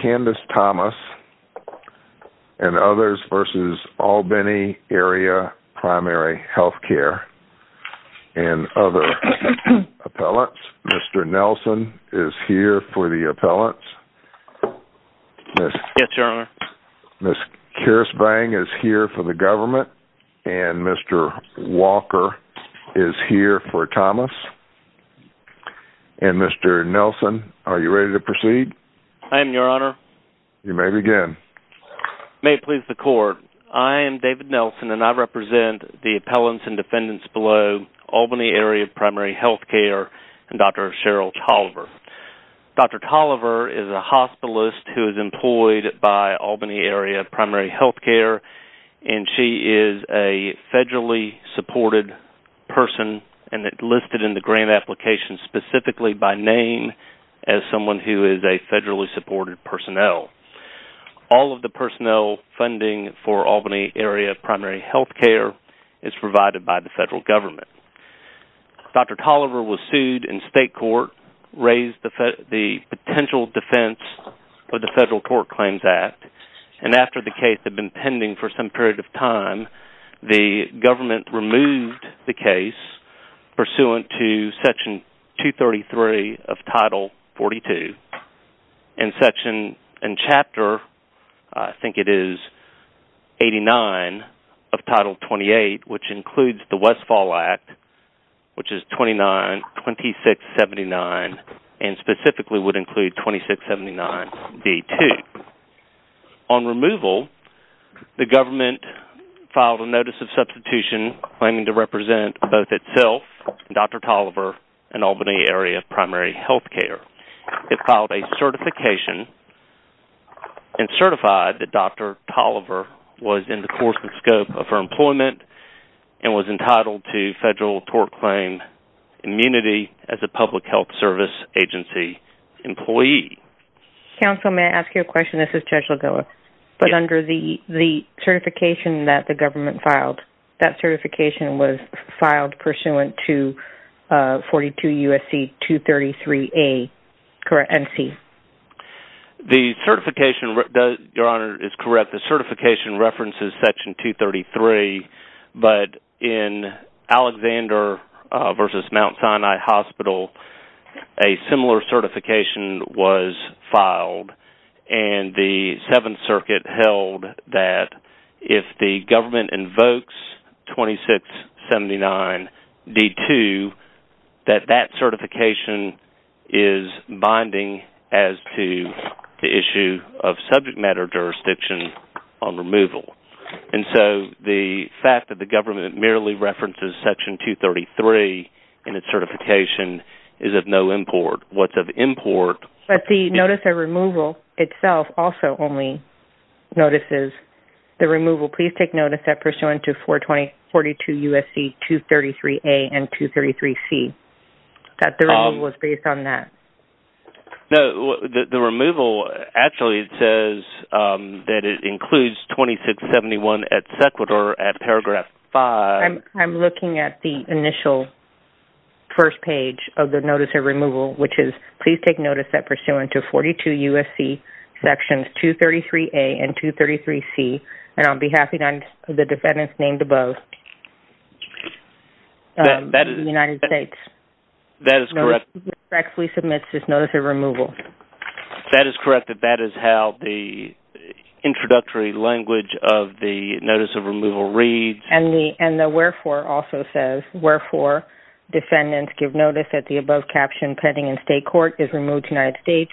Candace Thomas v. Albany Area Primary Healthcare Mr. Nelson is here for the appellants Ms. Karis Bang is here for the government Mr. Walker is here for Thomas Mr. Nelson, are you ready to proceed? I am, your honor. You may begin. May it please the court, I am David Nelson and I represent the appellants and defendants below Albany Area Primary Healthcare and Dr. Cheryl Tolliver. Dr. Tolliver is a hospitalist who is employed by Albany Area Primary Healthcare and she is a federally supported person and listed in the grant application specifically by name as someone who is a federally supported personnel. All of the personnel funding for Albany Area Primary Healthcare is provided by the federal government. Dr. Tolliver was sued in state court, raised the potential defense of the Federal Court Claims Act and after the case had been pending for some period of time, the government removed the case pursuant to Section 233 of Title 42. In section and chapter, I think it is 89 of Title 28 which includes the Westfall Act which is 292679 and specifically would include 2679B2. On removal, the government filed a notice of substitution claiming to represent both itself and Dr. Tolliver and Albany Area Primary Healthcare. It filed a certification and certified that Dr. Tolliver was in the course and scope of her employment and was entitled to federal tort claim immunity as a public health service agency employee. Counsel, may I ask you a question? This is Judge Lagoa. Under the certification that the government filed, that certification was filed pursuant to 42 U.S.C. 233A, correct? The certification references Section 233, but in Alexander v. Mount Sinai Hospital, a similar certification was filed and the 7th Circuit held that if the government invokes 2679B2, that that certification is binding as to the issue of subject matter jurisdiction on removal. And so, the fact that the government merely references Section 233 in its certification is of no import. But the notice of removal itself also only notices the removal. Please take notice that pursuant to 422 U.S.C. 233A and 233C, that the removal is based on that. No, the removal actually says that it includes 2671 at sequitur at paragraph 5. I'm looking at the initial first page of the notice of removal, which is, please take notice that pursuant to 42 U.S.C. Sections 233A and 233C, and I'll be happy to have the defendants named above in the United States. That is correct. Notice of removal. That is correct. That is how the introductory language of the notice of removal reads. And the wherefore also says, wherefore defendants give notice that the above caption pending in state court is removed to the United States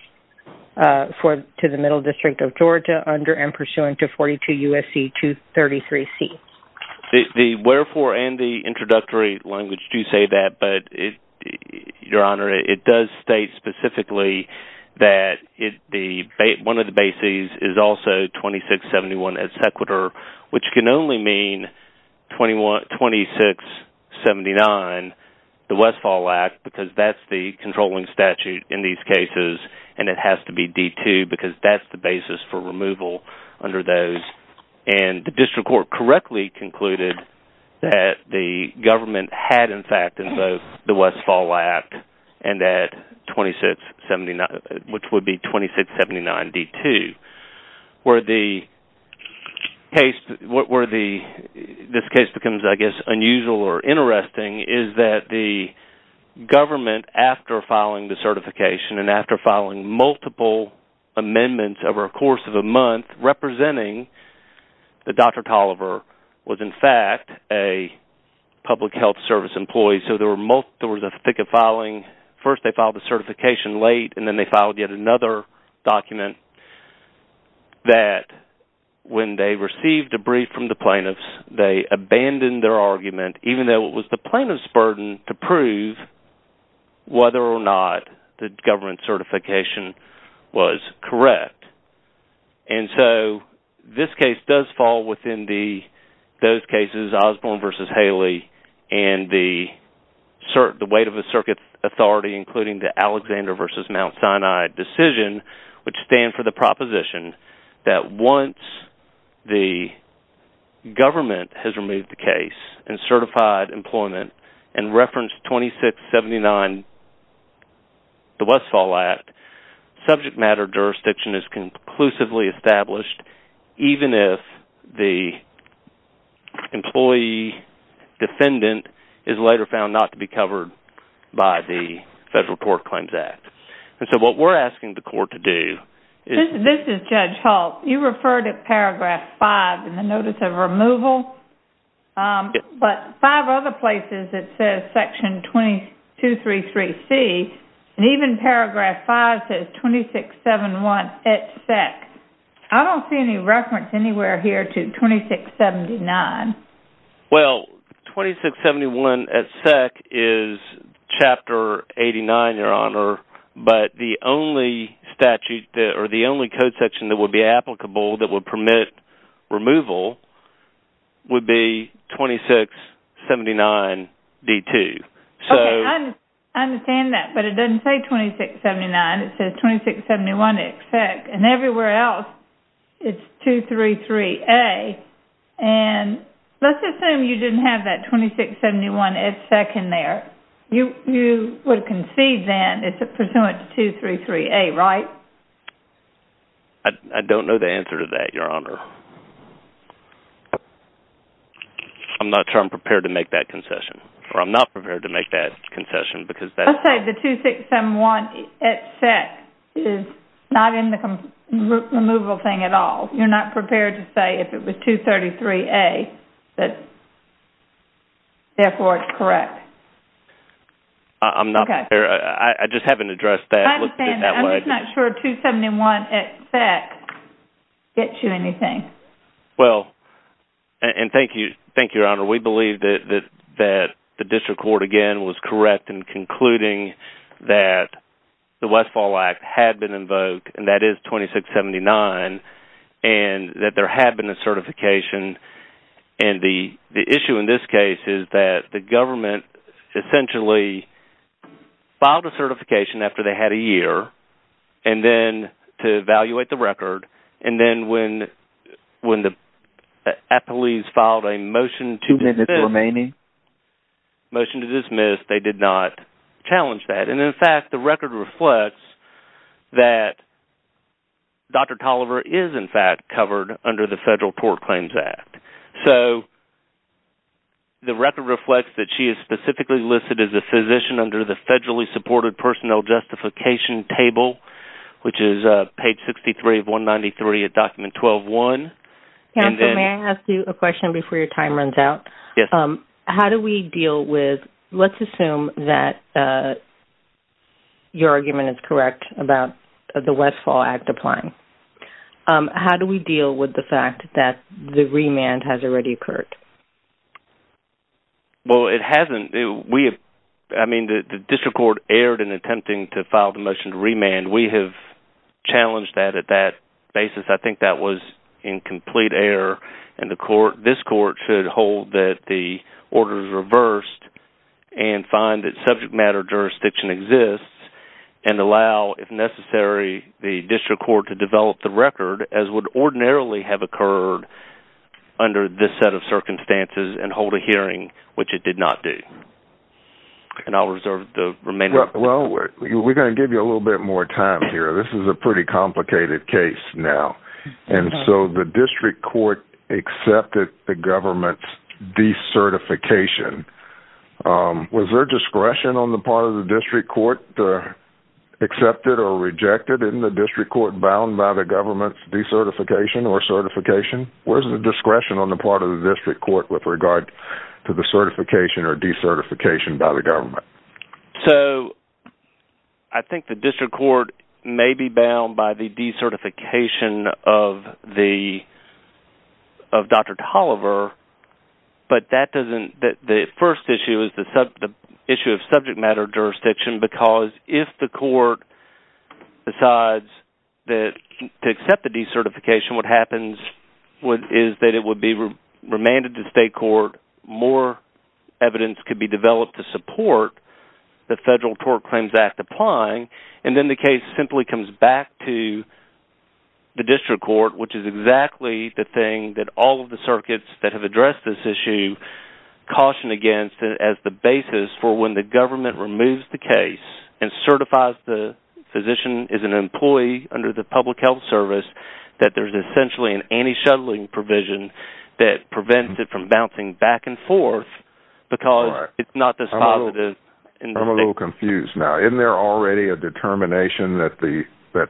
to the Middle District of Georgia under and pursuant to 42 U.S.C. 233C. The wherefore and the introductory language do say that, but Your Honor, it does state specifically that one of the bases is also 2671 at sequitur, which can only mean 2679, the Westfall Act, because that's the controlling statute in these cases. And it has to be D2 because that's the basis for removal under those. And the district court correctly concluded that the government had, in fact, in both the Westfall Act and that 2679, which would be 2679D2. Where this case becomes, I guess, unusual or interesting is that the government, after filing the certification and after filing multiple amendments over a course of a month representing that Dr. Toliver was, in fact, a public health service employee. So there was a thick of filing. First they filed the certification late, and then they filed yet another document that when they received a brief from the plaintiffs, they abandoned their argument even though it was the plaintiff's burden to prove whether or not the government certification was correct. And so this case does fall within those cases, Osborne v. Haley, and the weight of the circuit authority, including the Alexander v. Mount Sinai decision, which stands for the proposition that once the government has removed the case and certified employment and referenced 2679, the Westfall Act, subject matter jurisdiction is conclusively established even if the employee defendant is later found not to be covered by the Federal Court Claims Act. And so what we're asking the court to do is... But five other places it says section 2233C, and even paragraph 5 says 2671 et sec. I don't see any reference anywhere here to 2679. Well, 2671 et sec. is Chapter 89, Your Honor, but the only code section that would be applicable that would permit removal would be 2679d2. I understand that, but it doesn't say 2679. It says 2671 et sec., and everywhere else it's 233a. And let's assume you didn't have that 2671 et sec. in there. You would concede then it's pursuant to 233a, right? I don't know the answer to that, Your Honor. I'm not sure I'm prepared to make that concession. Or I'm not prepared to make that concession because that's... I'll say the 2671 et sec. is not in the removal thing at all. You're not prepared to say if it was 233a that therefore it's correct. I'm not prepared. I just haven't addressed that. I understand that. I'm just not sure 271 et sec. gets you anything. Well, and thank you, Your Honor. We believe that the district court again was correct in concluding that the Westfall Act had been invoked, and that is 2679, and that there had been a certification. And the issue in this case is that the government essentially filed a certification after they had a year, and then to evaluate the record, and then when the police filed a motion to dismiss, they did not challenge that. And in fact, the record reflects that Dr. Tolliver is in fact covered under the Federal Tort Claims Act. So the record reflects that she is specifically listed as a physician under the federally supported personnel justification table, which is page 63 of 193 of document 12-1. Counsel, may I ask you a question before your time runs out? Yes. How do we deal with, let's assume that your argument is correct about the Westfall Act applying. How do we deal with the fact that the remand has already occurred? Well, it hasn't. We have, I mean, the district court erred in attempting to file the motion to remand. And we have challenged that at that basis. I think that was in complete error, and this court should hold that the order is reversed, and find that subject matter jurisdiction exists, and allow, if necessary, the district court to develop the record as would ordinarily have occurred under this set of circumstances, and hold a hearing, which it did not do. And I'll reserve the remainder of my time. Well, we're going to give you a little bit more time here. This is a pretty complicated case now. And so the district court accepted the government's decertification. Was there discretion on the part of the district court to accept it or reject it in the district court bound by the government's decertification or certification? Where's the discretion on the part of the district court with regard to the certification or decertification by the government? So, I think the district court may be bound by the decertification of Dr. Tolliver. But that doesn't, the first issue is the issue of subject matter jurisdiction, because if the court decides to accept the decertification, what happens is that it would be remanded to state court. More evidence could be developed to support the Federal Tort Claims Act applying. And then the case simply comes back to the district court, which is exactly the thing that all of the circuits that have addressed this issue caution against as the basis for when the government removes the case and certifies the physician as an employee under the public health service that there's essentially an anti-shuttling provision that prevents it from bouncing back and forth because it's not this positive. I'm a little confused now. Isn't there already a determination that the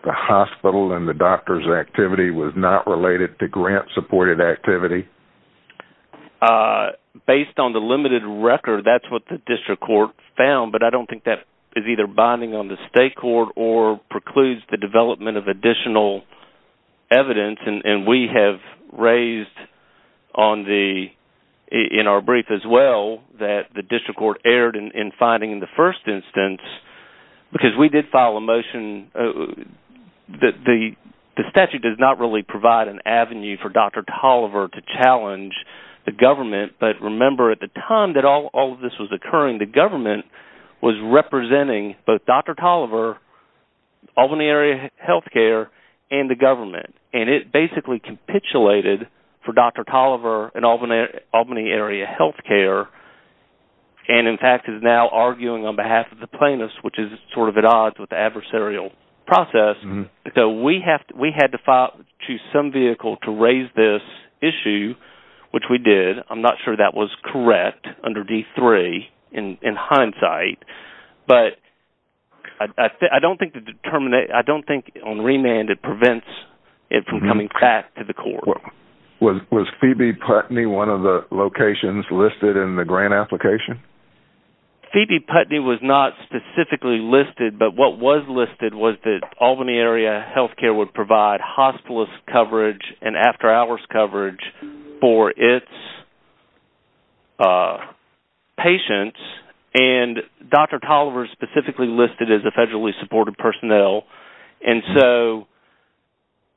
hospital and the doctor's activity was not related to grant-supported activity? Based on the limited record, that's what the district court found, but I don't think that is either binding on the state court or precludes the development of additional evidence. And we have raised in our brief as well that the district court erred in finding the first instance because we did file a motion. The statute does not really provide an avenue for Dr. Tolliver to challenge the government, but remember at the time that all of this was occurring, the government was representing both Dr. Tolliver, Albany Area Health Care, and the government, and it basically capitulated for Dr. Tolliver and Albany Area Health Care, and in fact is now arguing on behalf of the plaintiffs, which is sort of at odds with the adversarial process. So we had to file to some vehicle to raise this issue, which we did. I'm not sure that was correct under D3 in hindsight, but I don't think on remand it prevents it from coming back to the court. Was Phoebe Putney one of the locations listed in the grant application? Phoebe Putney was not specifically listed, but what was listed was that Albany Area Health Care would provide hospitalist coverage and after hours coverage for its patients, and Dr. Tolliver is specifically listed as a federally supported personnel. And so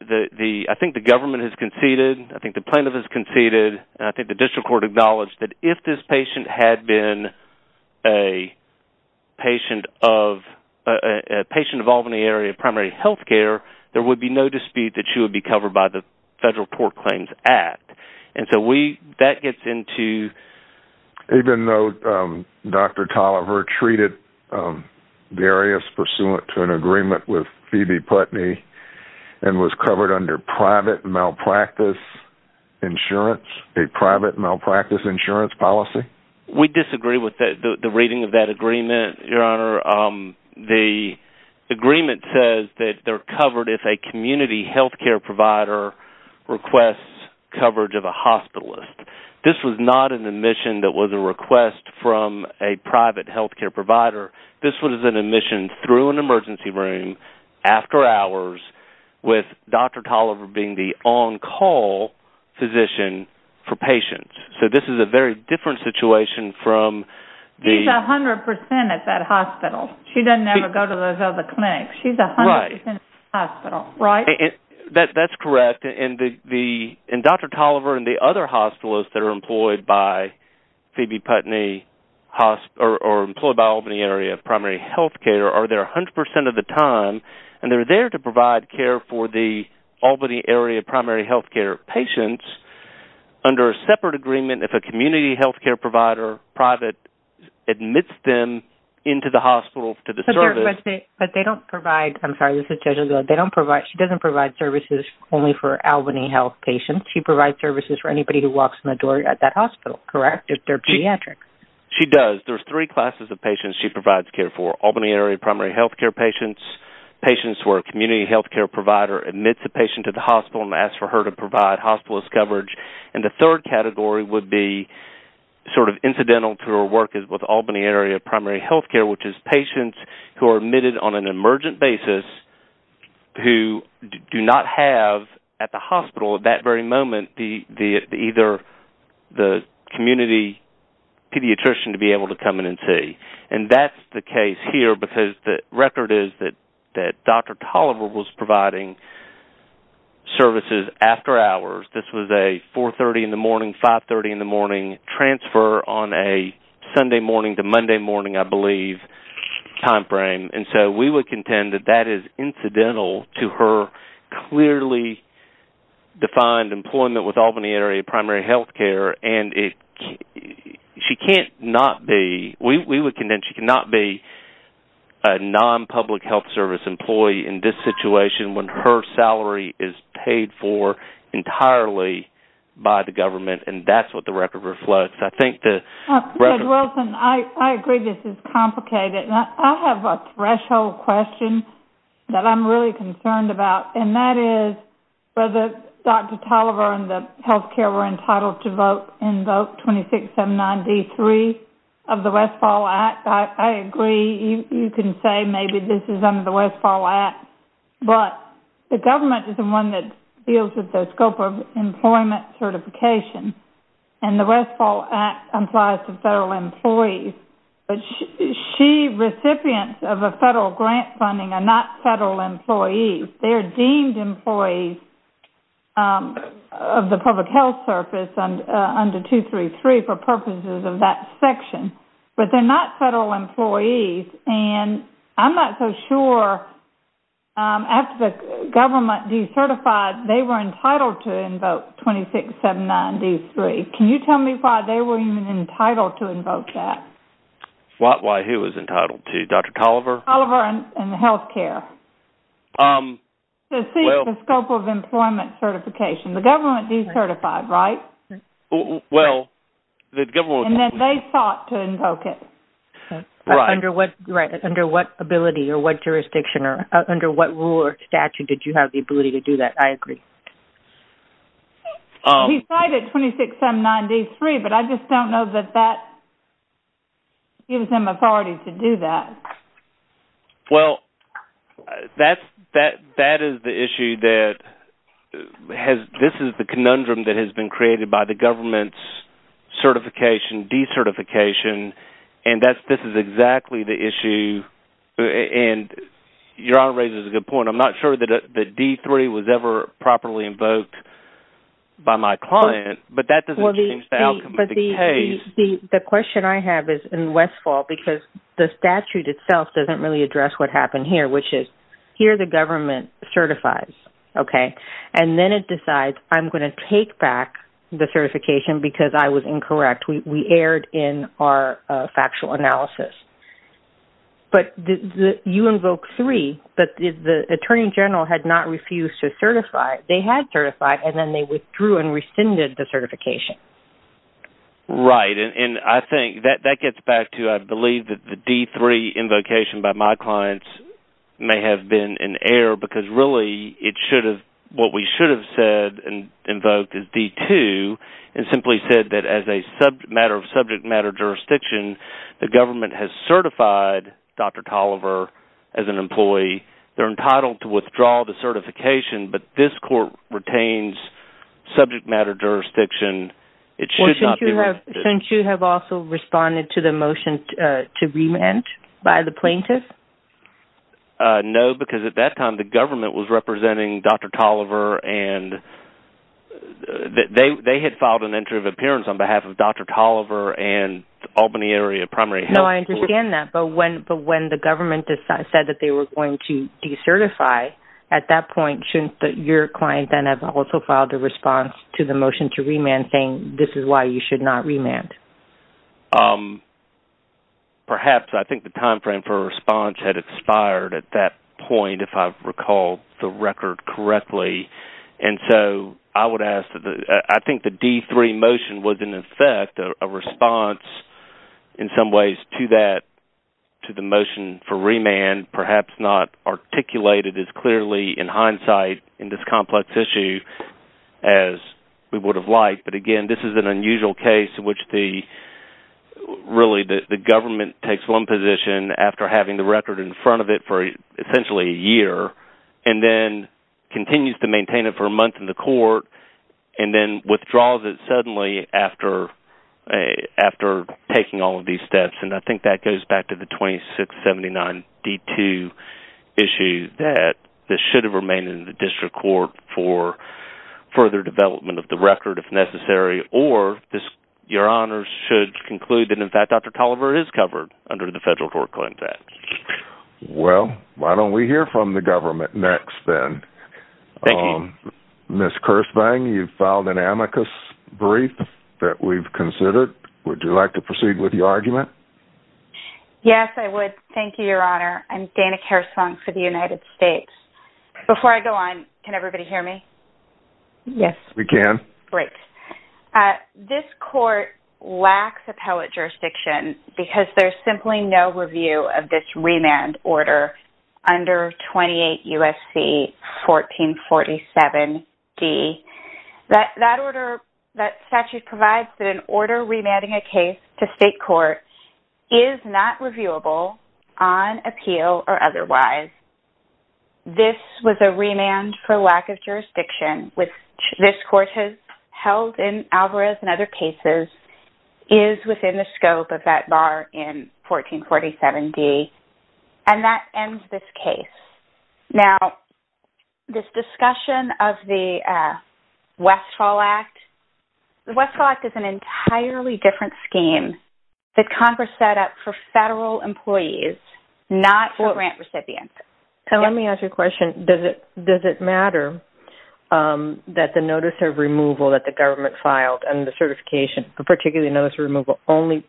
I think the government has conceded, I think the plaintiff has conceded, and I think the district court acknowledged that if this patient had been a patient of Albany Area Primary Health Care, there would be no dispute that she would be covered by the Federal Tort Claims Act. Even though Dr. Tolliver treated the areas pursuant to an agreement with Phoebe Putney and was covered under private malpractice insurance, a private malpractice insurance policy? We disagree with the reading of that agreement, Your Honor. The agreement says that they're covered if a community health care provider requests coverage of a hospitalist. This was not an admission that was a request from a private health care provider. This was an admission through an emergency room, after hours, with Dr. Tolliver being the on-call physician for patients. So this is a very different situation from the... She's 100% at that hospital. She doesn't ever go to those other clinics. She's 100% at the hospital, right? She doesn't provide services only for Albany Health patients. She provides services for anybody who walks in the door at that hospital, correct, if they're pediatric. She does. There's three classes of patients she provides care for. Albany Area Primary Health Care patients, patients where a community health care provider admits a patient to the hospital and asks for her to provide hospitalist coverage. The third category would be sort of incidental to her work with Albany Area Primary Health Care, which is patients who are admitted on an emergent basis who do not have, at the hospital at that very moment, either the community pediatrician to be able to come in and see. And that's the case here because the record is that Dr. Tolliver was providing services after hours. This was a 4.30 in the morning, 5.30 in the morning transfer on a Sunday morning to Monday morning, I believe, time frame. And so we would contend that that is incidental to her clearly defined employment with Albany Area Primary Health Care. We would contend she cannot be a non-public health service employee in this situation when her salary is paid for entirely by the government. And that's what the record reflects. Dr. Wilson, I agree this is complicated. I have a threshold question that I'm really concerned about, and that is whether Dr. Tolliver and the health care were entitled to invoke 26M9D3 of the Westfall Act. I agree you can say maybe this is under the Westfall Act, but the government is the one that deals with the scope of employment certification. And the Westfall Act applies to federal employees, but she, recipients of a federal grant funding are not federal employees. They are deemed employees of the public health service under 233 for purposes of that section. But they're not federal employees, and I'm not so sure after the government decertified, they were entitled to invoke 26M9D3. Can you tell me why they were even entitled to invoke that? Why he was entitled to, Dr. Tolliver? Tolliver and the health care. To seek the scope of employment certification. The government decertified, right? Well, the government... And then they sought to invoke it. Right. Under what ability or what jurisdiction or under what rule or statute did you have the ability to do that? I agree. He cited 26M9D3, but I just don't know that that gives him authority to do that. Well, that is the issue that has – this is the conundrum that has been created by the government's certification, decertification, and this is exactly the issue. And your honor raises a good point. I'm not sure that D3 was ever properly invoked by my client, but that doesn't change the outcome of the case. The question I have is in Westfall because the statute itself doesn't really address what happened here, which is here the government certifies, okay? And then it decides I'm going to take back the certification because I was incorrect. We erred in our factual analysis. But you invoke 3, but the attorney general had not refused to certify. They had certified, and then they withdrew and rescinded the certification. Right, and I think that gets back to I believe that the D3 invocation by my clients may have been an error because really it should have – what we should have said and invoked is D2 and simply said that as a matter of subject matter jurisdiction, the government has certified Dr. Tolliver as an employee. They're entitled to withdraw the certification, but this court retains subject matter jurisdiction. Well, shouldn't you have also responded to the motion to remand by the plaintiff? No, because at that time the government was representing Dr. Tolliver, and they had filed an entry of appearance on behalf of Dr. Tolliver and Albany Area Primary Health. No, I understand that, but when the government said that they were going to decertify, at that point shouldn't your client then have also filed a response to the motion to remand saying this is why you should not remand? Perhaps. I think the timeframe for a response had expired at that point if I recall the record correctly. And so I would ask – I think the D3 motion was in effect a response in some ways to that, to the motion for remand, perhaps not articulated as clearly in hindsight in this complex issue as we would have liked. But again, this is an unusual case in which really the government takes one position after having the record in front of it for essentially a year, and then continues to maintain it for a month in the court, and then withdraws it suddenly after taking all of these steps. And I think that goes back to the 2679 D2 issue, that this should have remained in the district court for further development of the record if necessary, or your honors should conclude that in fact Dr. Tolliver is covered under the Federal Court of Claims Act. Well, why don't we hear from the government next then? Thank you. Ms. Kirschbein, you filed an amicus brief that we've considered. Would you like to proceed with your argument? Yes, I would. Thank you, Your Honor. I'm Dana Kirschbein for the United States. Before I go on, can everybody hear me? Yes, we can. This court lacks appellate jurisdiction because there's simply no review of this remand order under 28 U.S.C. 1447 D. That statute provides that an order remanding a case to state court is not reviewable on appeal or otherwise. This was a remand for lack of jurisdiction, which this court has held in Alvarez and other cases, is within the scope of that bar in 1447 D, and that ends this case. Now, this discussion of the Westfall Act, the Westfall Act is an entirely different scheme that Congress set up for federal employees, not for grant recipients. Let me ask you a question. Does it matter that the notice of removal that the government filed and the certification, particularly notice of removal, only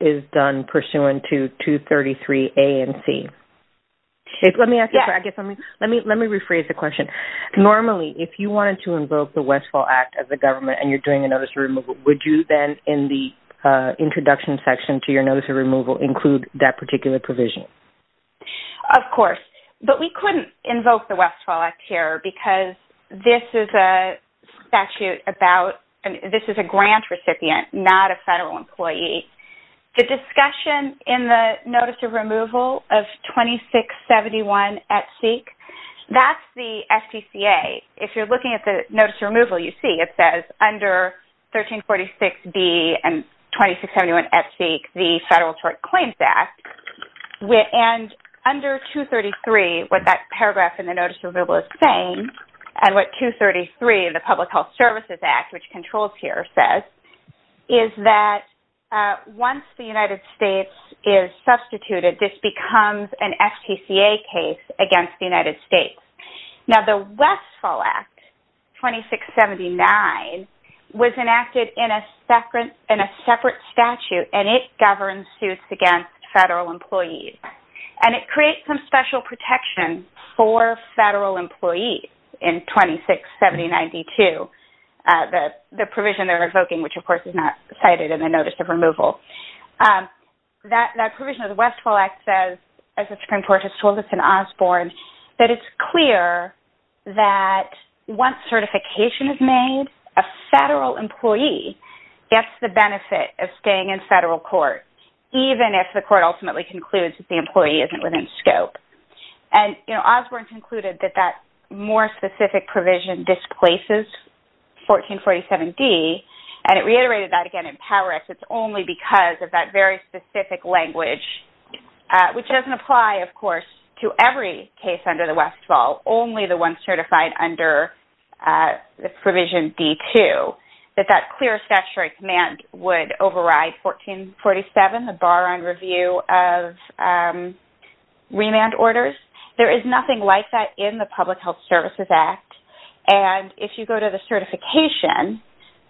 is done pursuant to 233 A and C? Let me rephrase the question. Normally, if you wanted to invoke the Westfall Act as the government and you're doing a notice of removal, would you then in the introduction section to your notice of removal include that particular provision? Of course, but we couldn't invoke the Westfall Act here because this is a statute about, this is a grant recipient, not a federal employee. The discussion in the notice of removal of 2671 at seek, that's the FGCA. If you're looking at the notice of removal, you see it says under 1346 B and 2671 at seek, the Federal Tort Claims Act. Under 233, what that paragraph in the notice of removal is saying, and what 233 in the Public Health Services Act, which controls here, says is that once the United States is substituted, this becomes an FGCA case against the United States. Now, the Westfall Act, 2679, was enacted in a separate statute, and it governs suits against federal employees, and it creates some special protection for federal employees in 2670-92, the provision they're invoking, which of course is not cited in the notice of removal. That provision of the Westfall Act says, as the Supreme Court has told us in Osborne, that it's clear that once certification is made, a federal employee gets the benefit of staying in federal court, even if the court ultimately concludes that the employee isn't within scope. Osborne concluded that that more specific provision displaces 1447D, and it reiterated that again in PowerX, it's only because of that very specific language, which doesn't apply, of course, to every case under the Westfall, only the ones certified under the provision D-2, that that clear statutory command would override 1447, the bar on review of remand orders. There is nothing like that in the Public Health Services Act, and if you go to the certification,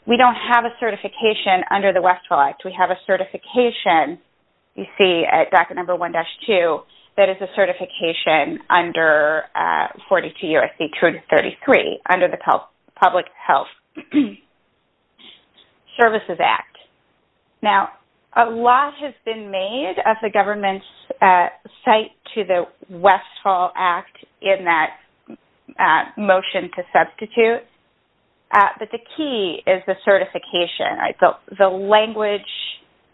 we don't have a certification under the Westfall Act. We have a certification, you see at docket number 1-2, that is a certification under 42 U.S.C. 233, under the Public Health Services Act. Now, a lot has been made of the government's cite to the Westfall Act in that motion to substitute, but the key is the certification. The language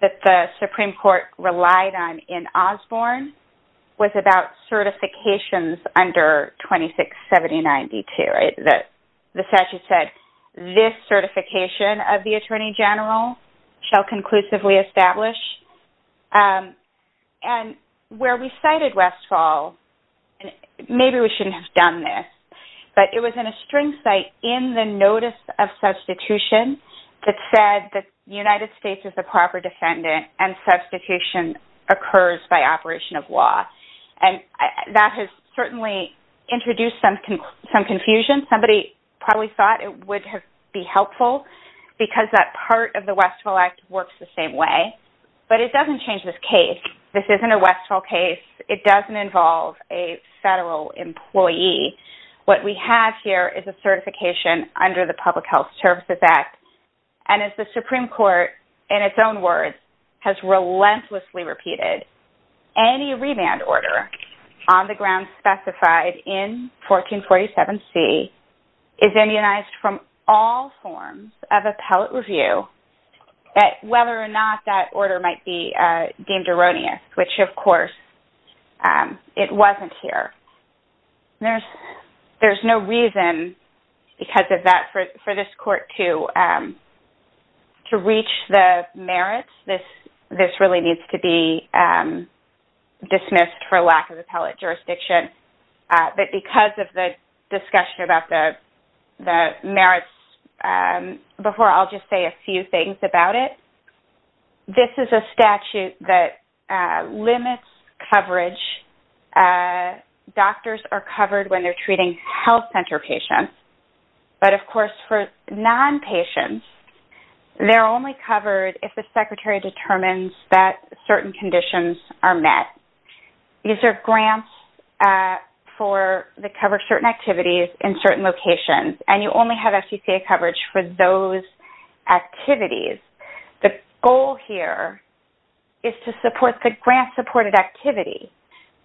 that the Supreme Court relied on in Osborne was about certifications under 2670-92. The statute said, this certification of the Attorney General shall conclusively establish. Where we cited Westfall, maybe we shouldn't have done this, but it was in a string cite in the notice of substitution that said that the United States is a proper defendant and substitution occurs by operation of law. That has certainly introduced some confusion. Somebody probably thought it would be helpful because that part of the Westfall Act works the same way, but it doesn't change this case. This isn't a Westfall case. It doesn't involve a federal employee. What we have here is a certification under the Public Health Services Act, and as the Supreme Court, in its own words, has relentlessly repeated, any remand order on the grounds specified in 1447-C is immunized from all forms of appellate review, whether or not that order might be deemed erroneous, which, of course, it wasn't here. There's no reason for this court to reach the merits. This really needs to be dismissed for lack of appellate jurisdiction, but because of the discussion about the merits, before, I'll just say a few things about it. This is a statute that limits coverage. Doctors are covered when they're treating health center patients, but, of course, for nonpatients, they're only covered if the secretary determines that certain conditions are met. These are grants that cover certain activities in certain locations, and you only have FCCA coverage for those activities. The goal here is to support the grant-supported activity.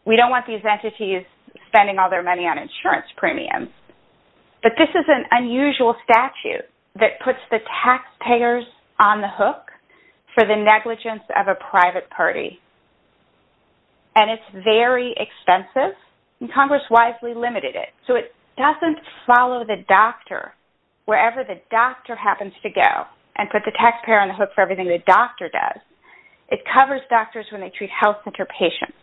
We don't want these entities spending all their money on insurance premiums, but this is an unusual statute that puts the taxpayers on the hook for the negligence of a private party, and it's very expensive, and Congress wisely limited it, so it doesn't follow the doctor wherever the doctor happens to go and put the taxpayer on the hook for everything the doctor does. It covers doctors when they treat health center patients.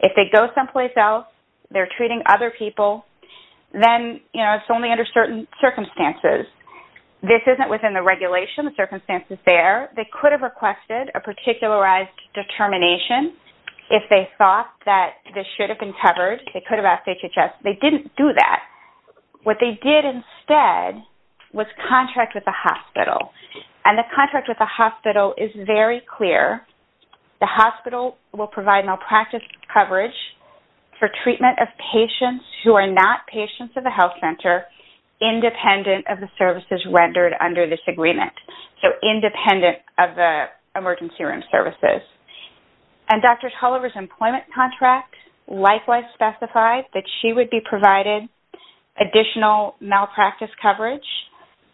If they go someplace else, they're treating other people, then it's only under certain circumstances. This isn't within the regulation. The circumstance is there. They could have requested a particularized determination if they thought that this should have been covered. They could have asked HHS. They didn't do that. What they did instead was contract with the hospital, and the contract with the hospital is very clear. The hospital will provide malpractice coverage for treatment of patients who are not patients of the health center independent of the services rendered under this agreement, so independent of the emergency room services. Dr. Tulliver's employment contract likewise specified that she would be provided additional malpractice coverage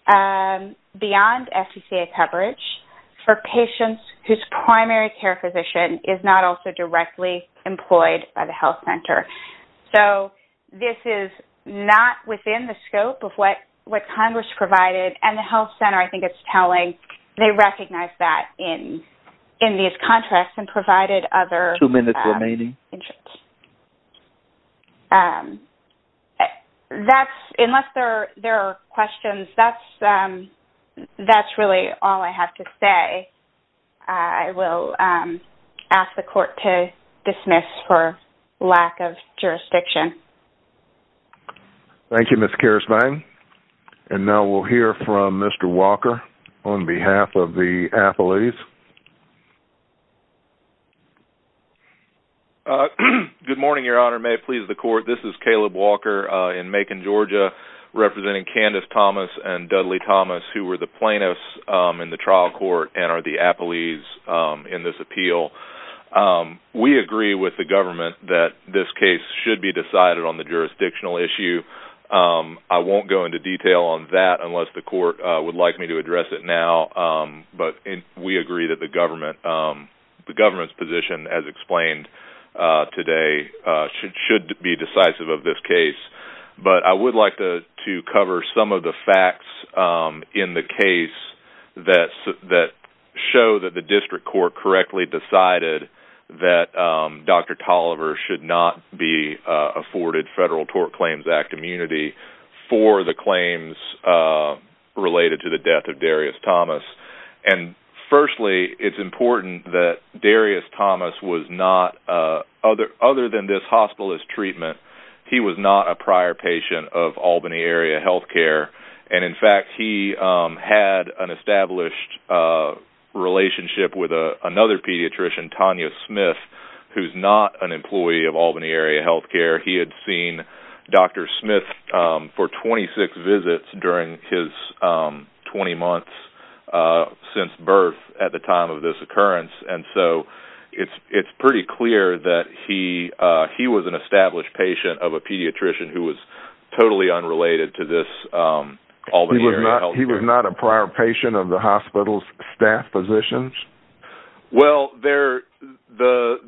beyond FCCA coverage for patients whose primary care physician is not also directly employed by the health center. This is not within the scope of what Congress provided, and the health center, I think it's telling. They recognize that in these contracts and provided other agents. Two minutes remaining. Unless there are questions, that's really all I have to say. I will ask the court to dismiss for lack of jurisdiction. Thank you, Ms. Kehrsvein. Now we'll hear from Mr. Walker on behalf of the athletes. Good morning, Your Honor. May it please the court. This is Caleb Walker in Macon, Georgia, representing Candace Thomas and Dudley Thomas, who were the plaintiffs in the trial court and are the appellees in this appeal. We agree with the government that this case should be decided on the jurisdictional issue. I won't go into detail on that unless the court would like me to address it now. We agree that the government's position, as explained today, should be decisive of this case. But I would like to cover some of the facts in the case that show that the district court correctly decided that Dr. Toliver should not be afforded Federal Tort Claims Act immunity for the claims related to the death of Darius Thomas. Firstly, it's important that Darius Thomas was not, other than this hospitalist treatment, he was not a prior patient of Albany Area Healthcare. In fact, he had an established relationship with another pediatrician, Tanya Smith, who's not an employee of Albany Area Healthcare. He had seen Dr. Smith for 26 visits during his 20 months since birth at the time of this occurrence. And so it's pretty clear that he was an established patient of a pediatrician who was totally unrelated to this Albany Area Healthcare. He was not a prior patient of the hospital's staff positions? Well, the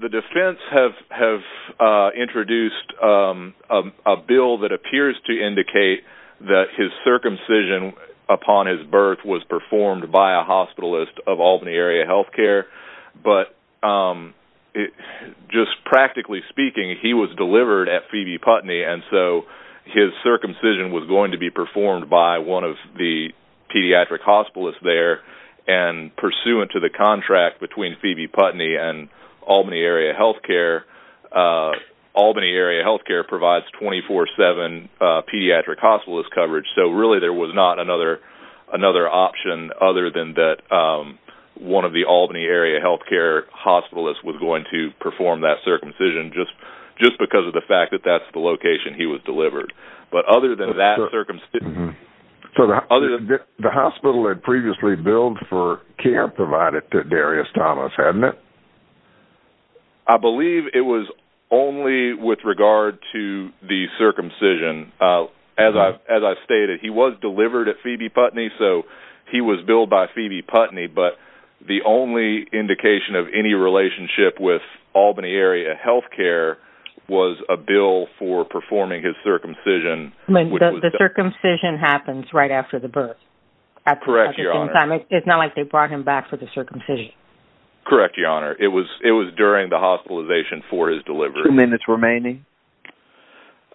defense have introduced a bill that appears to indicate that his circumcision upon his birth was performed by a hospitalist of Albany Area Healthcare. But just practically speaking, he was delivered at Phoebe Putney, and so his circumcision was going to be performed by one of the pediatric hospitalists there. And pursuant to the contract between Phoebe Putney and Albany Area Healthcare, Albany Area Healthcare provides 24-7 pediatric hospitalist coverage. So really, there was not another option other than that one of the Albany Area Healthcare hospitalists was going to perform that circumcision, just because of the fact that that's the location he was delivered. But other than that circumcision... So the hospital had previously billed for care provided to Darius Thomas, hadn't it? I believe it was only with regard to the circumcision. As I stated, he was delivered at Phoebe Putney, so he was billed by Phoebe Putney. But the only indication of any relationship with Albany Area Healthcare was a bill for performing his circumcision. The circumcision happens right after the birth? Correct, Your Honor. It's not like they brought him back for the circumcision? Correct, Your Honor. It was during the hospitalization for his delivery. Two minutes remaining.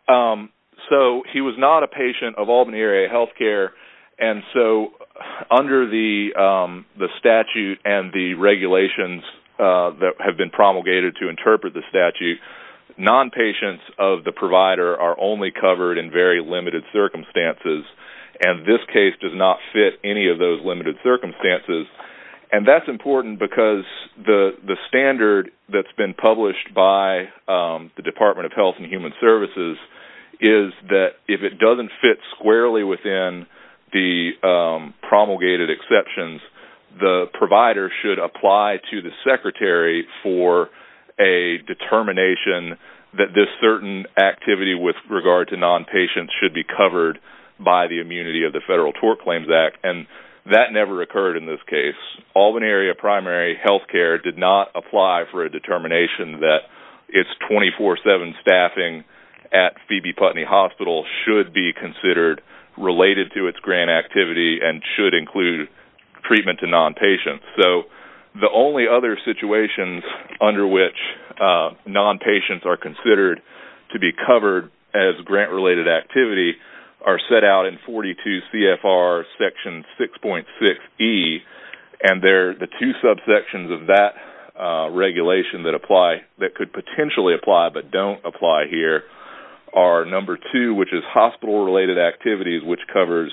So he was not a patient of Albany Area Healthcare. And so under the statute and the regulations that have been promulgated to interpret the statute, non-patients of the provider are only covered in very limited circumstances. And this case does not fit any of those limited circumstances. And that's important because the standard that's been published by the Department of Health and Human Services is that if it doesn't fit squarely within the promulgated exceptions, the provider should apply to the secretary for a determination that this certain activity with regard to non-patients should be covered by the immunity of the Federal Tort Claims Act. And that never occurred in this case. Albany Area Primary Healthcare did not apply for a determination that its 24-7 staffing at Phoebe Putney Hospital should be considered related to its grant activity and should include treatment to non-patients. So the only other situations under which non-patients are considered to be covered as grant-related activity are set out in 42 CFR Section 6.6E. And the two subsections of that regulation that apply, that could potentially apply but don't apply here, are number two, which is hospital-related activities, which covers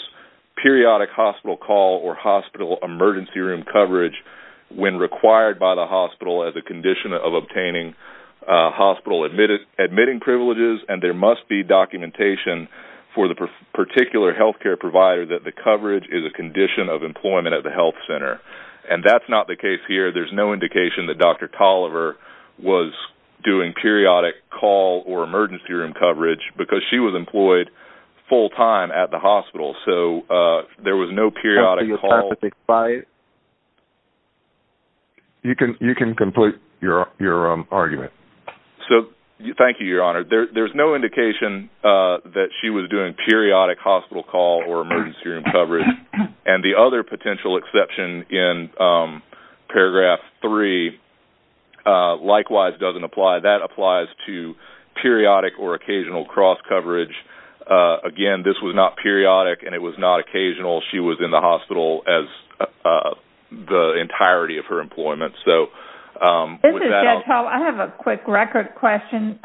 periodic hospital call or hospital emergency room coverage when required by the hospital as a condition of obtaining hospital admitting privileges. And there must be documentation for the particular healthcare provider that the coverage is a condition of employment at the health center. And that's not the case here. There's no indication that Dr. Tolliver was doing periodic call or emergency room coverage because she was employed full-time at the hospital. So there was no periodic call. You can complete your argument. Thank you, Your Honor. There's no indication that she was doing periodic hospital call or emergency room coverage. And the other potential exception in Paragraph 3 likewise doesn't apply. That applies to periodic or occasional cross-coverage. Again, this was not periodic and it was not occasional. She was in the hospital the entirety of her employment. I have a quick record question.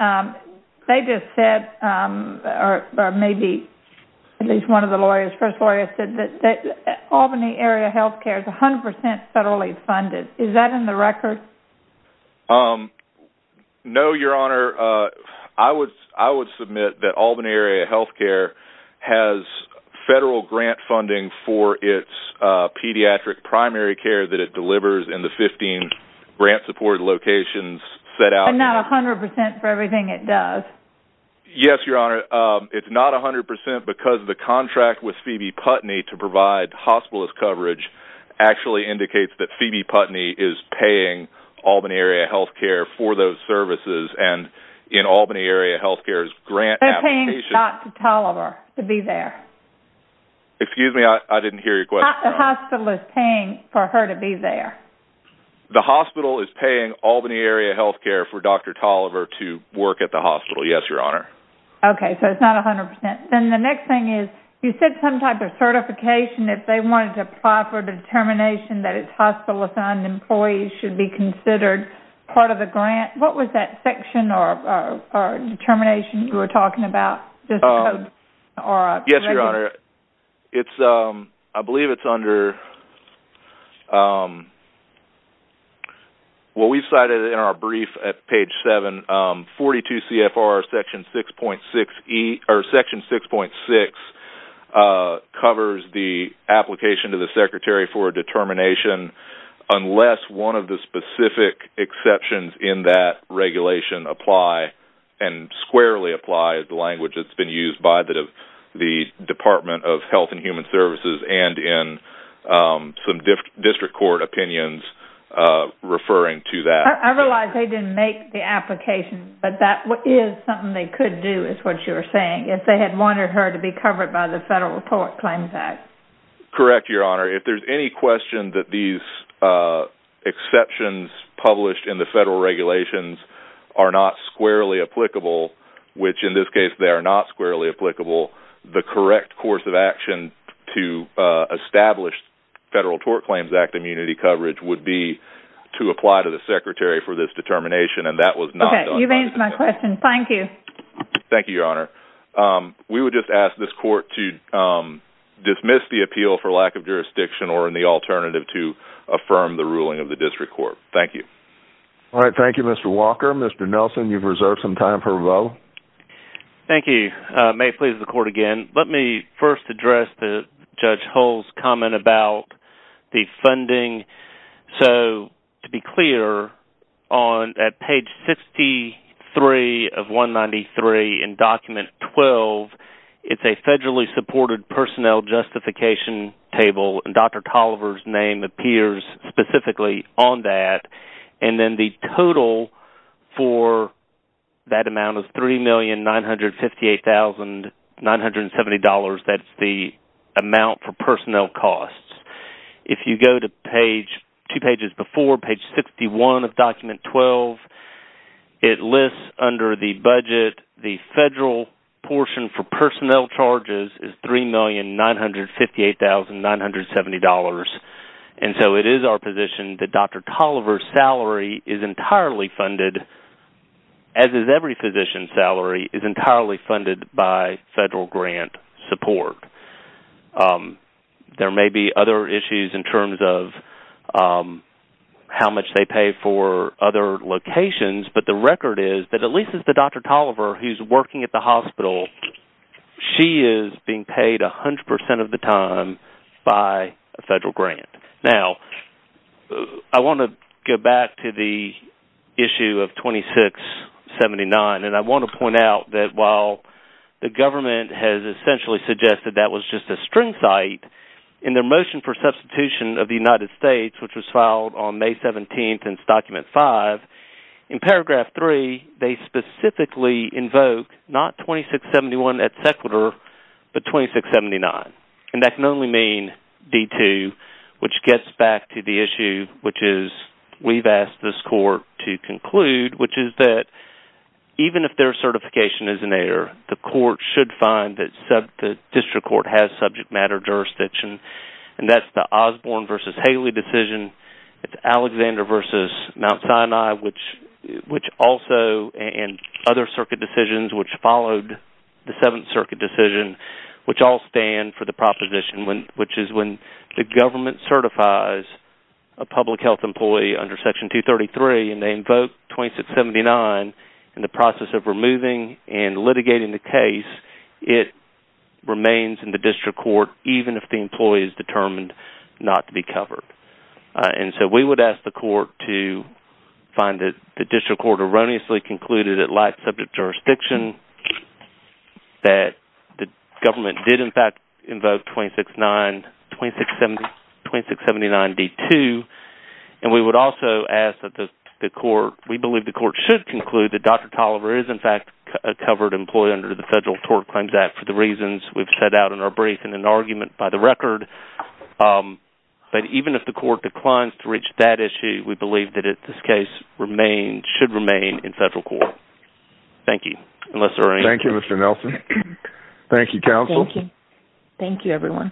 They just said, or maybe at least one of the lawyers, the first lawyer said that Albany Area Healthcare is 100% federally funded. Is that in the record? No, Your Honor. I would submit that Albany Area Healthcare has federal grant funding for its pediatric primary care that it delivers in the 15 grant-supported locations set out. But not 100% for everything it does? Yes, Your Honor. It's not 100% because the contract with Phoebe Putney to provide hospitalist coverage actually indicates that Phoebe Putney is paying Albany Area Healthcare for those services and in Albany Area Healthcare's grant application. They're paying Dr. Tolliver to be there. Excuse me, I didn't hear your question. The hospital is paying for her to be there. The hospital is paying Albany Area Healthcare for Dr. Tolliver to work at the hospital. Yes, Your Honor. Okay, so it's not 100%. Then the next thing is, you said some type of certification, if they wanted to apply for the determination that it's hospital-assigned employees should be considered part of the grant. What was that section or determination you were talking about? Yes, Your Honor. I believe it's under – well, we cited it in our brief at page 7. 42 CFR section 6.6 covers the application to the secretary for a determination unless one of the specific exceptions in that regulation apply and squarely apply the language that's been used by the Department of Health and Human Services and in some district court opinions referring to that. I realize they didn't make the application, but that is something they could do is what you're saying, if they had wanted her to be covered by the Federal Report Claims Act. Correct, Your Honor. If there's any question that these exceptions published in the federal regulations are not squarely applicable, which in this case they are not squarely applicable, the correct course of action to establish Federal Tort Claims Act immunity coverage would be to apply to the secretary for this determination, and that was not done. Okay, you've answered my question. Thank you. Thank you, Your Honor. We would just ask this court to dismiss the appeal for lack of jurisdiction or in the alternative to affirm the ruling of the district court. Thank you. All right, thank you, Mr. Walker. Mr. Nelson, you've reserved some time for a vote. Thank you. May it please the court again, let me first address Judge Hull's comment about the funding. So to be clear, at page 63 of 193 in document 12, it's a federally supported personnel justification table, and Dr. Coliver's name appears specifically on that. And then the total for that amount is $3,958,970. That's the amount for personnel costs. If you go to two pages before, page 61 of document 12, it lists under the budget, the federal portion for personnel charges is $3,958,970. And so it is our position that Dr. Coliver's salary is entirely funded, as is every physician's salary, is entirely funded by federal grant support. There may be other issues in terms of how much they pay for other locations, but the record is that at least if it's Dr. Coliver who's working at the hospital, she is being paid 100% of the time by a federal grant. Now, I want to go back to the issue of 2679, and I want to point out that while the government has essentially suggested that was just a string site, in their motion for substitution of the United States, which was filed on May 17th in document 5, in paragraph 3, they specifically invoke not 2671 at Sequitur, but 2679. And that can only mean D2, which gets back to the issue which is we've asked this court to conclude, which is that even if their certification is in error, the court should find that the district court has subject matter jurisdiction, and that's the Osborne v. Haley decision, Alexander v. Mount Sinai, and other circuit decisions which followed the Seventh Circuit decision, which all stand for the proposition which is when the government certifies a public health employee under Section 233, and they invoke 2679 in the process of removing and litigating the case, it remains in the district court even if the employee is determined not to be covered. And so we would ask the court to find that the district court erroneously concluded it lacked subject jurisdiction, that the government did in fact invoke 2679 D2, and we would also ask that the court, we believe the court should conclude that Dr. Toliver is in fact a covered employee under the Federal Tort Claims Act for the reasons we've set out in our brief in an argument by the record. But even if the court declines to reach that issue, we believe that this case should remain in federal court. Thank you. Thank you, Mr. Nelson. Thank you, counsel. Thank you, everyone.